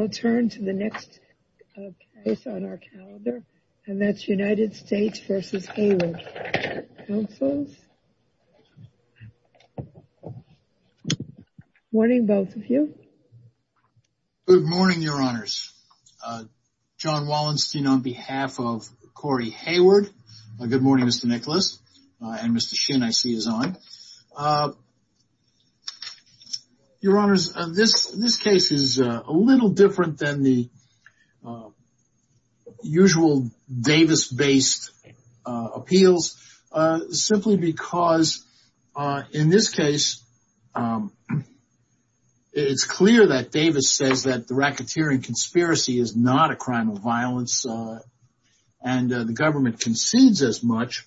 I'll turn to the next case on our calendar and that's United States v. Echevarria Councils. Good morning your honors. John Wallenstein on behalf of Corey Heyward. Good morning Mr. Wallenstein. It's a little different than the usual Davis-based appeals simply because in this case it's clear that Davis says that the racketeering conspiracy is not a crime of violence and the government concedes as much.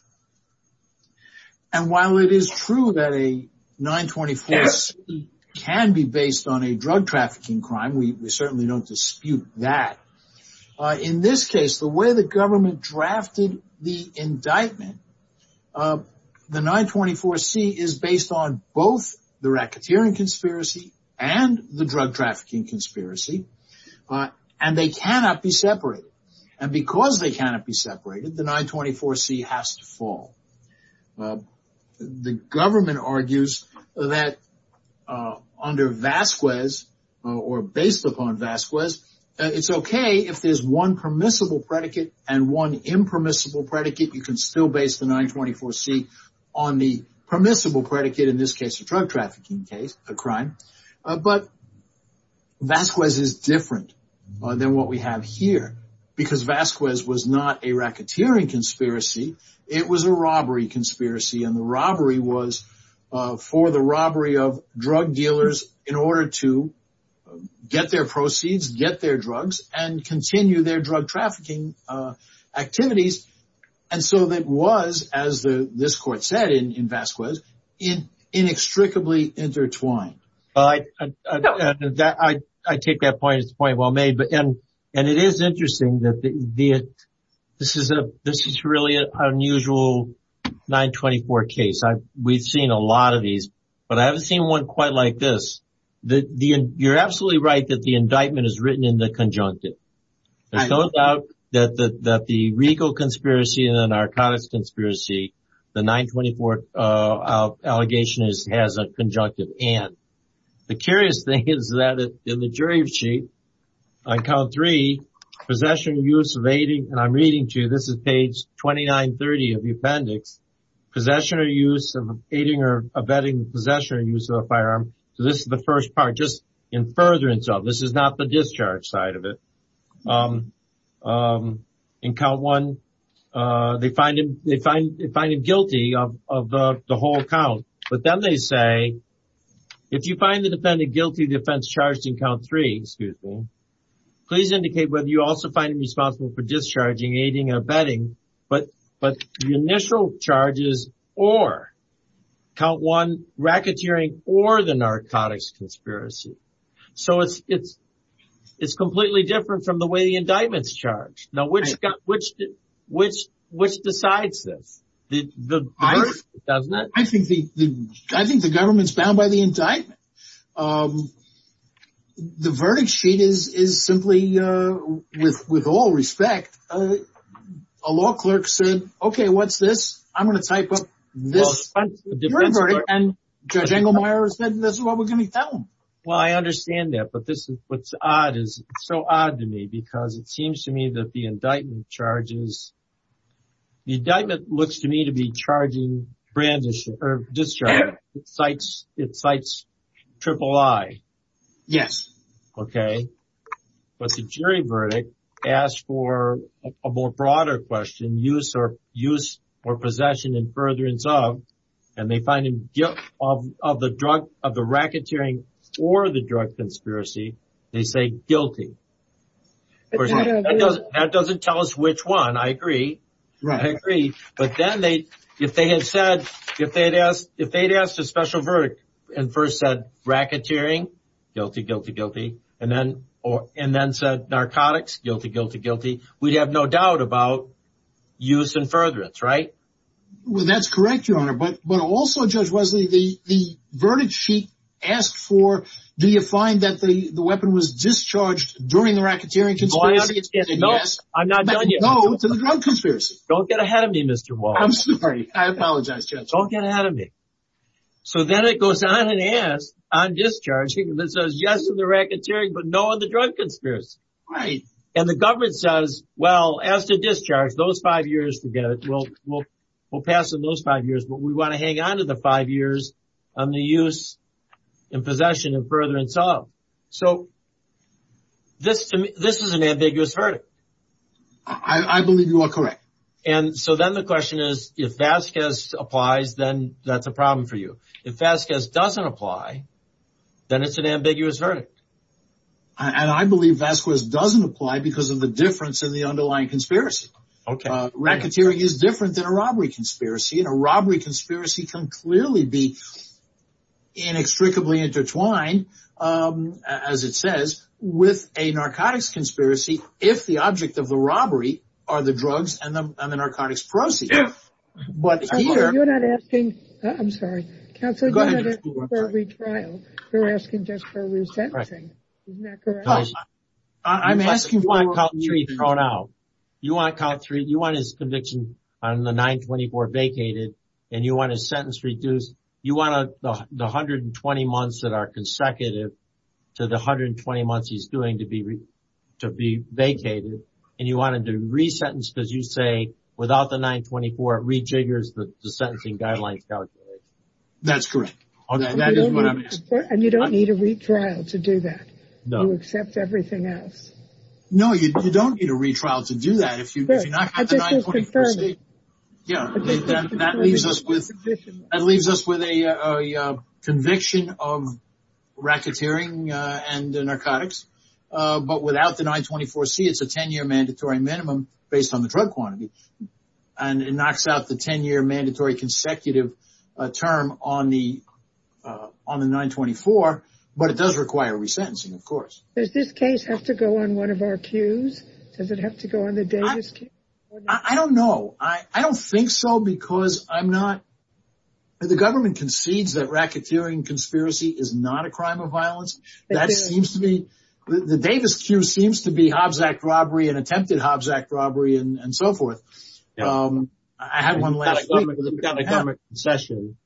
And while it is true that a 924-C can be based on a drug trafficking crime, we certainly don't dispute that, in this case the way the government drafted the indictment, the 924-C is based on both the racketeering conspiracy and the drug trafficking conspiracy and they cannot be separated. And because they cannot be separated, the 924-C has to fall. The government argues that under Vasquez or based upon Vasquez, it's okay if there's one permissible predicate and one impermissible predicate, you can still base the 924-C on the permissible predicate, in this case a drug trafficking case, a crime. But Vasquez is different than what we have here because Vasquez was not a racketeering conspiracy, it was a robbery conspiracy and the robbery was for the robbery of drug dealers in order to get their proceeds, get their drugs and continue their drug trafficking activities and so it was, as this court said in Vasquez, inextricably intertwined. I take that point, it's a point well made, and it is interesting that this is really an unusual 924 case. We've seen a lot of these, but I haven't seen one quite like this. You're absolutely right that the indictment is written in the conjunctive. There's no doubt that the legal conspiracy and the narcotics conspiracy, the 924 allegation has a conjunctive and. The curious thing is that in the jury sheet, on count three, possession or use of aiding, and I'm reading to you, this is page 2930 of the appendix, possession or use of aiding or abetting possession or use of a firearm, this is the first part, just in furtherance of, this is not the discharge side of it. In count one, they find him guilty of the whole count, but then they say, if you find the defendant guilty of the offense charged in count three, please indicate whether you also find him responsible for discharging, aiding or abetting, but the initial charges or count one, racketeering or the narcotics conspiracy. So it's completely different from the way the indictments charged. Now, which decides this? I think the government's bound by the indictment. The verdict sheet is simply, with all respect, a law clerk said, okay, what's this? I'm going to type up this. Judge Engelmeyer said, this is what we're going to tell them. Well, I understand that, but what's odd is, it's so odd to me because it seems to me that the indictment charges, the indictment looks to me to be charging discharge. It cites triple I. Yes. Okay. But the jury verdict asks for a more broader question, use or possession in furtherance of, and they find him guilty of the racketeering or the drug conspiracy, they say guilty. That doesn't tell us which one. I agree. I agree. But then they, if they had said, if they'd asked, if they'd asked a special verdict and first said racketeering, guilty, guilty, guilty, and then, or, and then said narcotics, guilty, guilty, guilty, we'd have no doubt about use and furtherance. Right? Well, that's correct, Your Honor. But, but also, Judge Wesley, the, the verdict sheet asked for, do you find that the weapon was discharged during the racketeering conspiracy? Oh, I understand. No, I'm not done yet. No, to the drug conspiracy. Don't get ahead of me, Mr. Wall. I'm sorry. I apologize, Judge. Don't get ahead of me. So then it goes on and asks, on discharge, it says yes to the racketeering, but no on the drug conspiracy. Right. And the government says, well, as to discharge, those five years, forget it, we'll, we'll, we'll pass on those five years, but we want to hang on to the five years on the use and possession of furtherance of. So this, this is an ambiguous verdict. I believe you are correct. And so then the question is, if Vasquez applies, then that's a problem for you. If Vasquez doesn't apply, then it's an ambiguous verdict. And I believe Vasquez doesn't apply because of the difference in the underlying conspiracy. Racketeering is different than a robbery conspiracy, and a robbery conspiracy can clearly be inextricably intertwined, as it says, with a narcotics conspiracy if the object of the robbery are the drugs and the narcotics proceeds. You're not asking, I'm sorry, Counselor, you're not asking for a retrial. You're asking just for resentencing. Isn't that correct? I'm asking for a retrial. You want his conviction on the 924 vacated, and you want his sentence reduced. You want the 120 months that are consecutive to the 120 months he's doing to be vacated. And you want him to resentence because you say without the 924, it rejiggers the sentencing guidelines calculation. That's correct. Okay, that is what I'm asking. And you don't need a retrial to do that? No. You accept everything else? No, you don't need a retrial to do that. If you knock out the 924C, that leaves us with a conviction of racketeering and narcotics. But without the 924C, it's a 10-year mandatory minimum based on the drug quantity. And it knocks out the 10-year mandatory consecutive term on the 924, but it does require resentencing, of course. Does this case have to go on one of our queues? Does it have to go on the Davis queue? I don't know. I don't think so because I'm not – the government concedes that racketeering conspiracy is not a crime of violence. That seems to me – the Davis queue seems to be Hobbs Act robbery and attempted Hobbs Act robbery and so forth. I had one last week. You've got a government concession.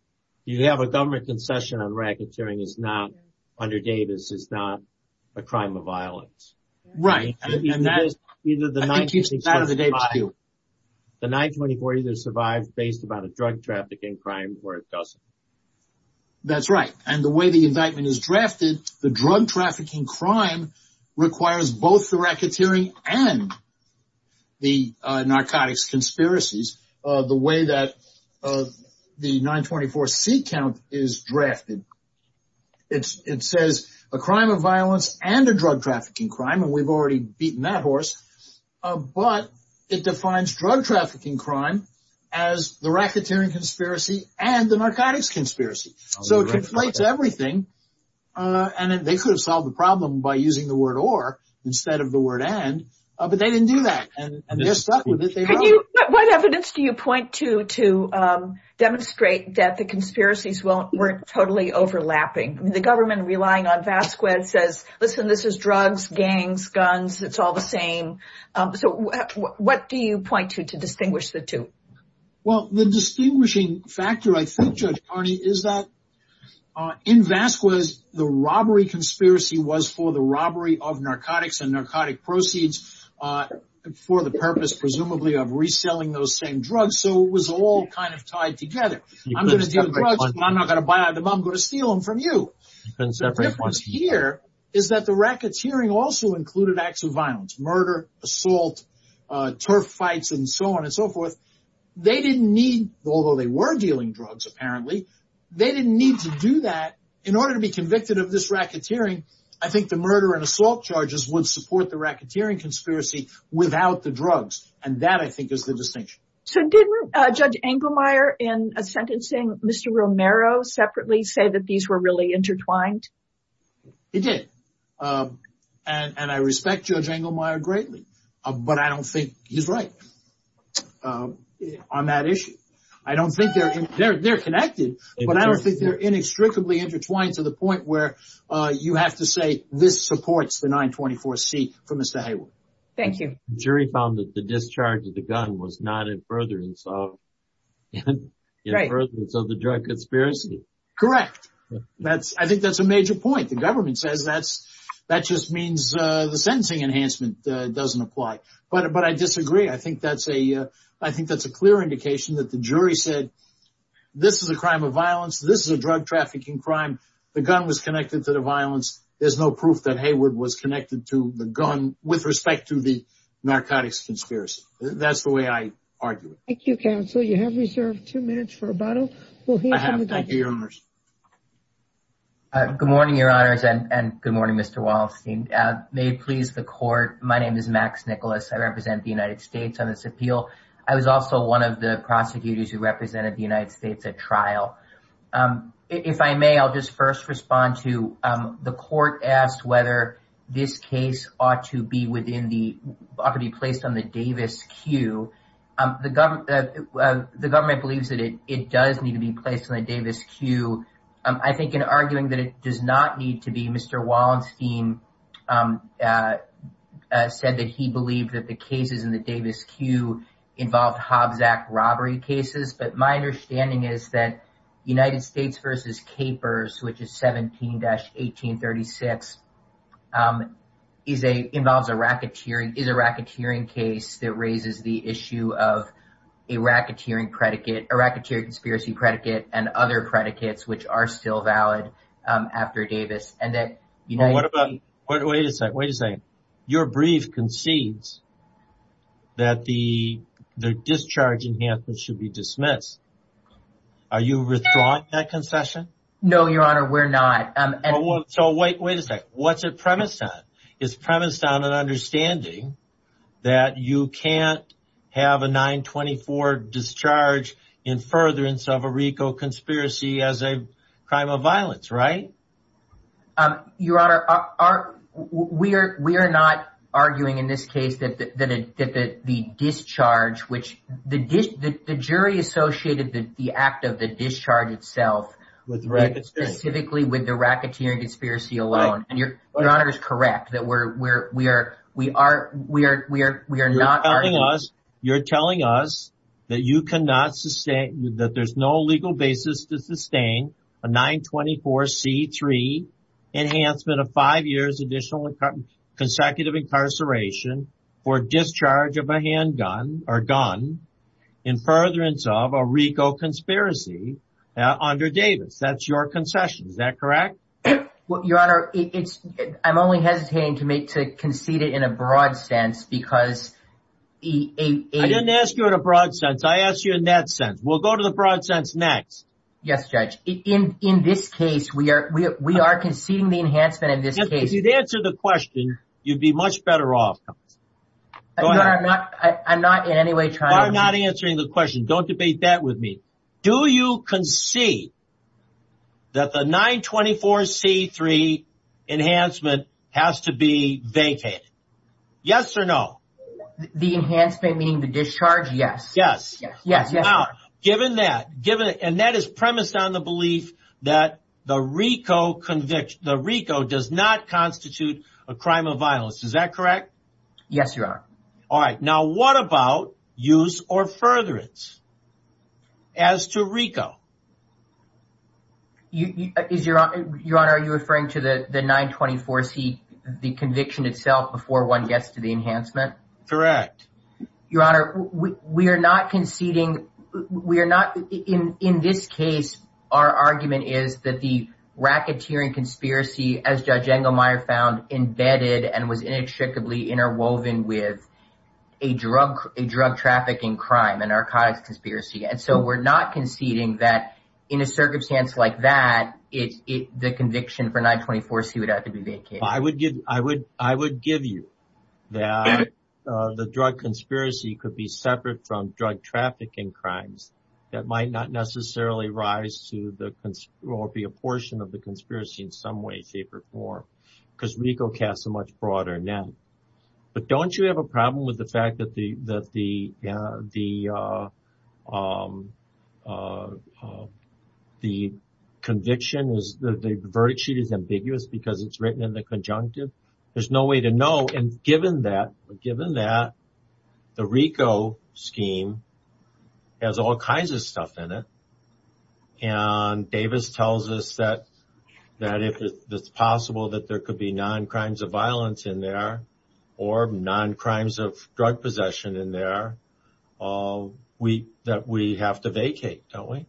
You have a government concession on racketeering is not – under Davis is not a crime of violence. Right. And that is – I think it's part of the Davis queue. The 924 either survives based upon a drug trafficking crime or it doesn't. That's right. And the way the indictment is drafted, the drug trafficking crime requires both the racketeering and the narcotics conspiracies. The way that the 924C count is drafted, it says a crime of violence and a drug trafficking crime, and we've already beaten that horse, but it defines drug trafficking crime as the racketeering conspiracy and the narcotics conspiracy. So it conflates everything, and they could have solved the problem by using the word or instead of the word and, but they didn't do that, and they're stuck with it. What evidence do you point to to demonstrate that the conspiracies weren't totally overlapping? The government relying on Vasquez says, listen, this is drugs, gangs, guns. It's all the same. So what do you point to to distinguish the two? Well, the distinguishing factor, I think, Judge Carney, is that in Vasquez, the robbery conspiracy was for the robbery of narcotics and narcotic proceeds for the purpose presumably of reselling those same drugs. So it was all kind of tied together. I'm going to deal drugs, but I'm not going to buy them. I'm going to steal them from you. The difference here is that the racketeering also included acts of violence, murder, assault, turf fights, and so on and so forth. They didn't need, although they were dealing drugs, apparently, they didn't need to do that in order to be convicted of this racketeering. I think the murder and assault charges would support the racketeering conspiracy without the drugs, and that, I think, is the distinction. So didn't Judge Engelmeyer in sentencing Mr. Romero separately say that these were really intertwined? He did, and I respect Judge Engelmeyer greatly, but I don't think he's right on that issue. I don't think they're connected, but I don't think they're inextricably intertwined to the point where you have to say this supports the 924 C for Mr. Hayward. Thank you. The jury found that the discharge of the gun was not in furtherance of the drug conspiracy. Correct. I think that's a major point. The government says that just means the sentencing enhancement doesn't apply, but I disagree. I think that's a clear indication that the jury said this is a crime of violence. This is a drug trafficking crime. The gun was connected to the violence. There's no proof that Hayward was connected to the gun with respect to the narcotics conspiracy. That's the way I argue it. Thank you, Counsel. You have reserved two minutes for rebuttal. I have. Thank you, Your Honors. Good morning, Your Honors, and good morning, Mr. Wallenstein. May it please the Court, my name is Max Nicholas. I represent the United States on this appeal. I was also one of the prosecutors who represented the United States at trial. If I may, I'll just first respond to the court asked whether this case ought to be placed on the Davis Q. The government believes that it does need to be placed on the Davis Q. I think in arguing that it does not need to be, Mr. Wallenstein said that he believed that the cases in the Davis Q involved Hobbs Act robbery cases. But my understanding is that United States v. Capers, which is 17-1836, involves a racketeering case that raises the issue of a racketeering predicate, a racketeering conspiracy predicate, and other predicates which are still valid after Davis. Wait a second, wait a second. Your brief concedes that the discharge enhancement should be dismissed. Are you withdrawing that concession? No, Your Honor, we're not. So wait a second. What's it premised on? It's premised on an understanding that you can't have a 924 discharge in furtherance of a RICO conspiracy as a crime of violence, right? Your Honor, we are not arguing in this case that the discharge, which the jury associated the act of the discharge itself specifically with the racketeering conspiracy alone. Your Honor is correct that we are not arguing. You're telling us that there's no legal basis to sustain a 924 C-3 enhancement of five years additional consecutive incarceration for discharge of a handgun or gun in furtherance of a RICO conspiracy under Davis. That's your concession. Is that correct? Your Honor, I'm only hesitating to concede it in a broad sense because... I didn't ask you in a broad sense. I asked you in that sense. We'll go to the broad sense next. Yes, Judge. In this case, we are conceding the enhancement in this case. If you'd answer the question, you'd be much better off. Your Honor, I'm not in any way trying to... The 924 C-3 enhancement has to be vacated. Yes or no? The enhancement meaning the discharge? Yes. Yes. Now, given that, and that is premised on the belief that the RICO does not constitute a crime of violence. Is that correct? Yes, Your Honor. All right. Now, what about use or furtherance as to RICO? Your Honor, are you referring to the 924 C, the conviction itself before one gets to the enhancement? Correct. Your Honor, we are not conceding... In this case, our argument is that the racketeering conspiracy, as Judge Engelmeyer found, embedded and was inextricably interwoven with a drug trafficking crime, an archivist conspiracy. And so we're not conceding that in a circumstance like that, the conviction for 924 C would have to be vacated. I would give you that the drug conspiracy could be separate from drug trafficking crimes that might not necessarily rise to or be a portion of the conspiracy in some way, shape, or form. Because RICO casts a much broader net. But don't you have a problem with the fact that the conviction, the verdict sheet is ambiguous because it's written in the conjunctive? There's no way to know. And given that, the RICO scheme has all kinds of stuff in it. And Davis tells us that if it's possible that there could be non-crimes of violence in there, or non-crimes of drug possession in there, that we have to vacate, don't we?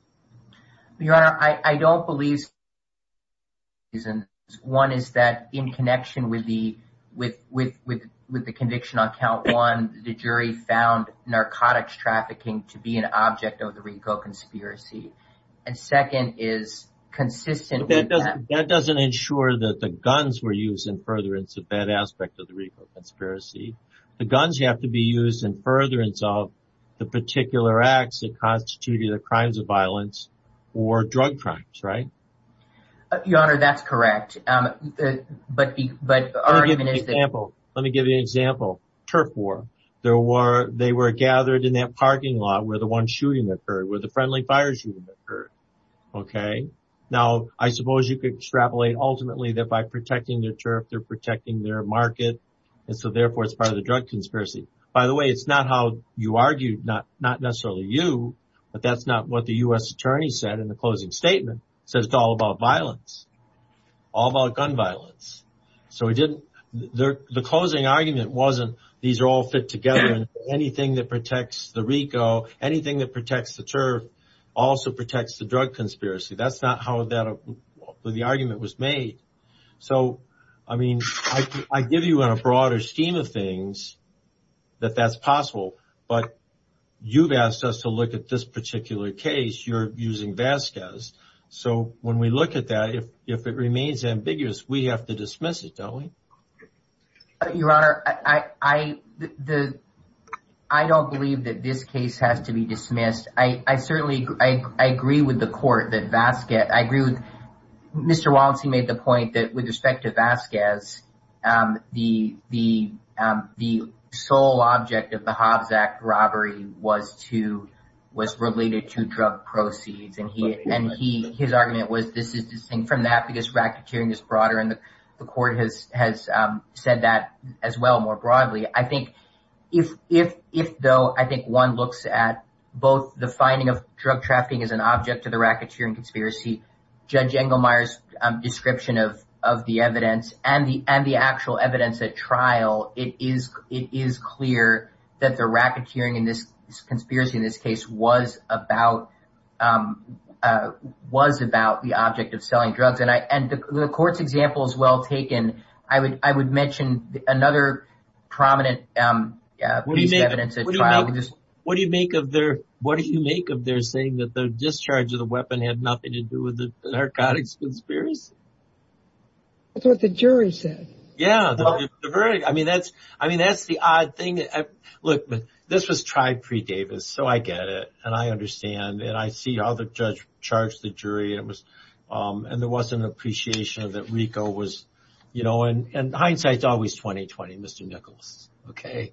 Your Honor, I don't believe... One is that in connection with the conviction on count one, the jury found narcotics trafficking to be an object of the RICO conspiracy. And second is consistent... That doesn't ensure that the guns were used in furtherance of that aspect of the RICO conspiracy. The guns have to be used in furtherance of the particular acts that constitute either crimes of violence or drug crimes, right? Your Honor, that's correct. But the argument is that... Let me give you an example. Turf War. They were gathered in that parking lot where the one shooting occurred, where the friendly fire shooting occurred, okay? Now, I suppose you could extrapolate ultimately that by protecting their turf, they're protecting their market, and so therefore it's part of the drug conspiracy. By the way, it's not how you argued, not necessarily you, but that's not what the U.S. Attorney said in the closing statement. He said it's all about violence, all about gun violence. The closing argument wasn't these are all fit together, and anything that protects the RICO, anything that protects the turf also protects the drug conspiracy. That's not how the argument was made. So, I mean, I give you on a broader scheme of things that that's possible, but you've asked us to look at this particular case. You're using Vasquez. So when we look at that, if it remains ambiguous, we have to dismiss it, don't we? Your Honor, I don't believe that this case has to be dismissed. I certainly agree with the court that Vasquez... I agree with... Mr. Walensky made the point that with respect to Vasquez, the sole object of the Hobbs Act robbery was related to drug proceeds, and his argument was this is distinct from that because racketeering is broader, and the court has said that as well more broadly. I think if, though, I think one looks at both the finding of drug trafficking as an object to the racketeering conspiracy, Judge Engelmeyer's description of the evidence and the actual evidence at trial, it is clear that the racketeering conspiracy in this case was about the object of selling drugs. And the court's example is well taken. I would mention another prominent piece of evidence at trial. What do you make of their saying that the discharge of the weapon had nothing to do with the narcotics conspiracy? That's what the jury said. Yeah. I mean, that's the odd thing. Look, this was tried pre-Davis, so I get it, and I understand, and I see how the judge charged the jury, and there was an appreciation that RICO was, you know, and hindsight's always 20-20, Mr. Nichols, okay?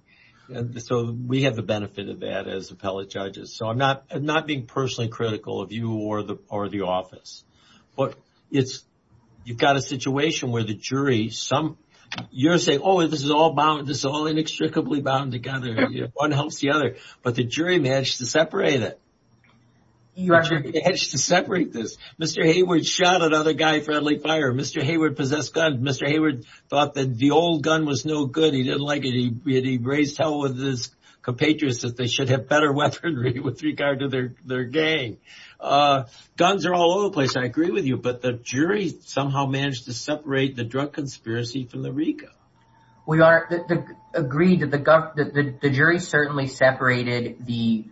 So we have the benefit of that as appellate judges. So I'm not being personally critical of you or the office, but you've got a situation where the jury, you're saying, oh, this is all inextricably bound together. One helps the other. But the jury managed to separate it. The jury managed to separate this. Mr. Hayward shot another guy for early fire. Mr. Hayward possessed guns. Mr. Hayward thought that the old gun was no good. He didn't like it. He raised hell with his compatriots that they should have better weaponry with regard to their gang. Guns are all over the place, and I agree with you, but the jury somehow managed to separate the drug conspiracy from the RICO. We agree that the jury certainly separated the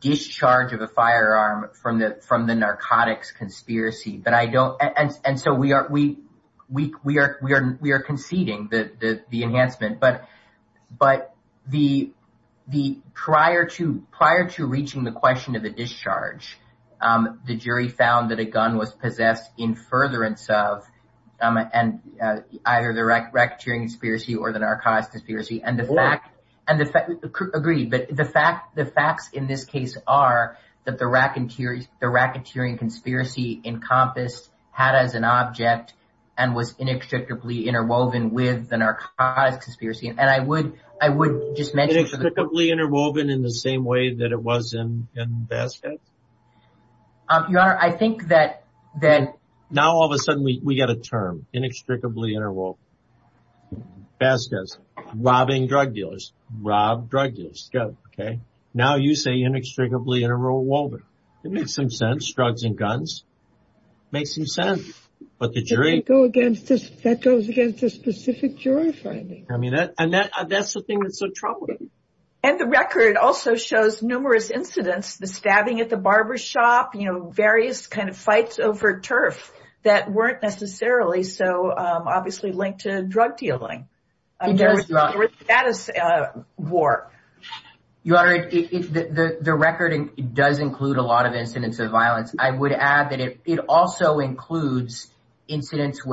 discharge of a firearm from the narcotics conspiracy. And so we are conceding the enhancement. But prior to reaching the question of the discharge, the jury found that a gun was possessed in furtherance of either the racketeering conspiracy or the narcotics conspiracy. Agreed. But the facts in this case are that the racketeering conspiracy encompassed HADA as an object and was inextricably interwoven with the narcotics conspiracy. Inextricably interwoven in the same way that it was in Vasquez? Your Honor, I think that now all of a sudden we've got a term, inextricably interwoven. Vasquez, robbing drug dealers. Robbed drug dealers. Now you say inextricably interwoven. It makes some sense. Drugs and guns. Makes some sense. But the jury goes against a specific jury finding. And that's the thing that's so troubling. And the record also shows numerous incidents, the stabbing at the barber shop, various kind of fights over turf that weren't necessarily so obviously linked to drug dealing. There was a status war. Your Honor, the record does include a lot of incidents of violence. I would add that it also includes incidents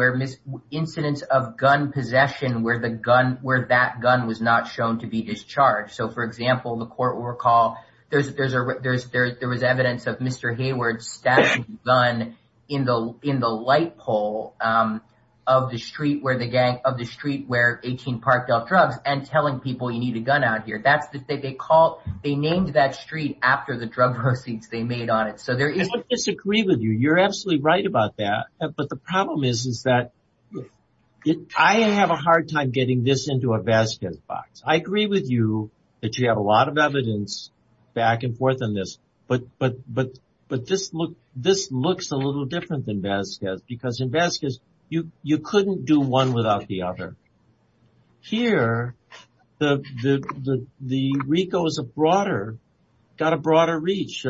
of gun possession where that gun was not shown to be discharged. So, for example, the court will recall there was evidence of Mr. Hayward stabbing a gun in the light pole of the street where 18 Park dealt drugs and telling people you need a gun out here. They named that street after the drug proceeds they made on it. I would disagree with you. You're absolutely right about that. But the problem is that I have a hard time getting this into a Vasquez box. I agree with you that you have a lot of evidence back and forth on this. But this looks a little different than Vasquez because in Vasquez you couldn't do one without the other. Here the RICO is a broader, got a broader reach.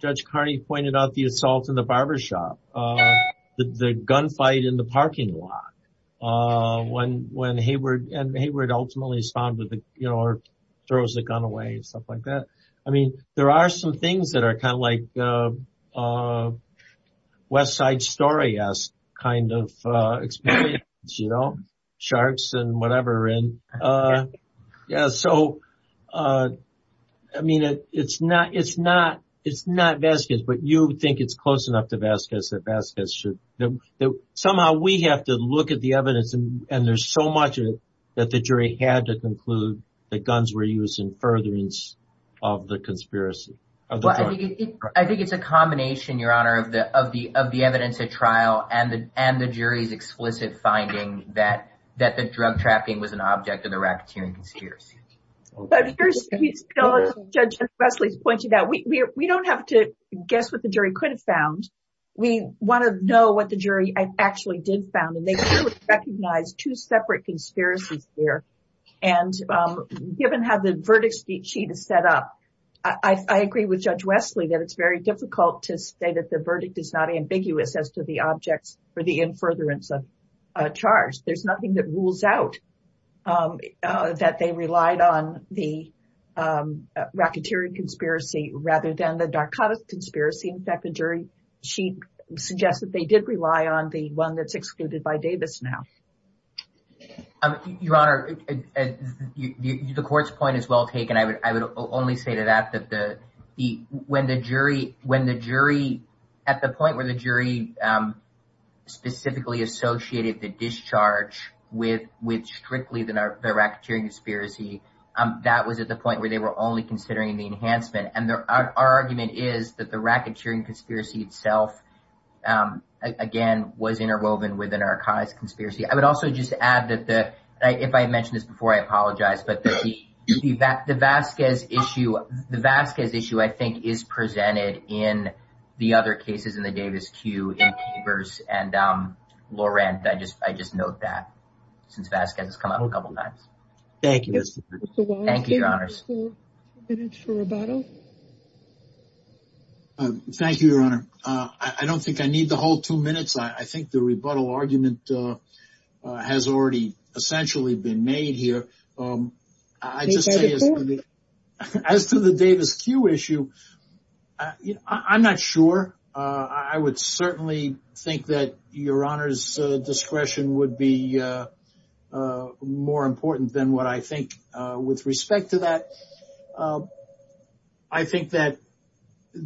Judge Carney pointed out the assault in the barber shop, the gunfight in the parking lot. When Hayward ultimately responded or throws the gun away and stuff like that. I mean, there are some things that are kind of like West Side Story-esque kind of experience, you know, sharks and whatever. So, I mean, it's not Vasquez, but you think it's close enough to Vasquez that somehow we have to look at the evidence and there's so much of it that the jury had to conclude that guns were used in furtherance of the conspiracy. I think it's a combination, Your Honor, of the evidence at trial and the jury's explicit finding that the drug trafficking was an object of the racketeering conspiracy. Judge Wesley pointed out, we don't have to guess what the jury could have found. We want to know what the jury actually did found. And they do recognize two separate conspiracies there. And given how the verdict sheet is set up, I agree with Judge Wesley that it's very difficult to say that the verdict is not ambiguous as to the objects for the in furtherance of a charge. There's nothing that rules out that they relied on the racketeering conspiracy rather than the narcotics conspiracy. In fact, the jury sheet suggests that they did rely on the one that's excluded by Davis now. Your Honor, the court's point is well taken. I would only say to that that when the jury, at the point where the jury specifically associated the discharge with strictly the racketeering conspiracy, that was at the point where they were only considering the enhancement. And our argument is that the racketeering conspiracy itself, again, was interwoven with a narcotics conspiracy. I would also just add that the, if I had mentioned this before, I apologize, but the Vasquez issue, I think, is presented in the other cases in the Davis queue in Chambers and Laurent. I just note that since Vasquez has come up a couple times. Thank you. Thank you, Your Honors. Any other minutes for rebuttal? Thank you, Your Honor. I don't think I need to hold two minutes. I think the rebuttal argument has already essentially been made here. As to the Davis queue issue, I'm not sure. I would certainly think that Your Honor's discretion would be more important than what I think with respect to that. I think that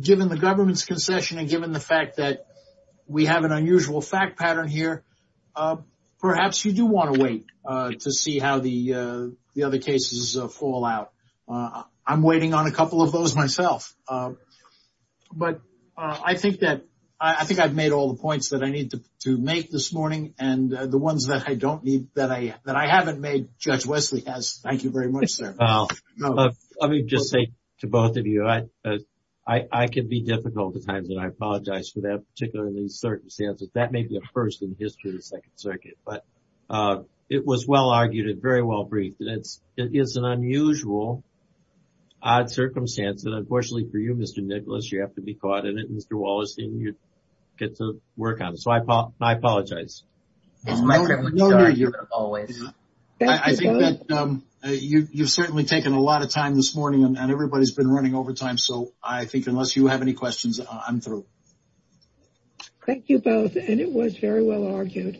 given the government's concession and given the fact that we have an unusual fact pattern here, perhaps you do want to wait to see how the other cases fall out. I'm waiting on a couple of those myself. But I think that I've made all the points that I need to make this morning, and the ones that I haven't made, Judge Wesley has. Thank you very much, sir. Let me just say to both of you, I can be difficult at times, and I apologize for that, particularly in these circumstances. That may be a first in the history of the Second Circuit. But it was well-argued and very well-briefed. It is an unusual, odd circumstance, and unfortunately for you, Mr. Nicholas, you have to be caught in it, and Mr. Wallerstein, you get to work on it. So I apologize. It's my privilege, always. I think that you've certainly taken a lot of time this morning, and everybody's been running over time, so I think unless you have any questions, I'm through. Thank you both, and it was very well-argued.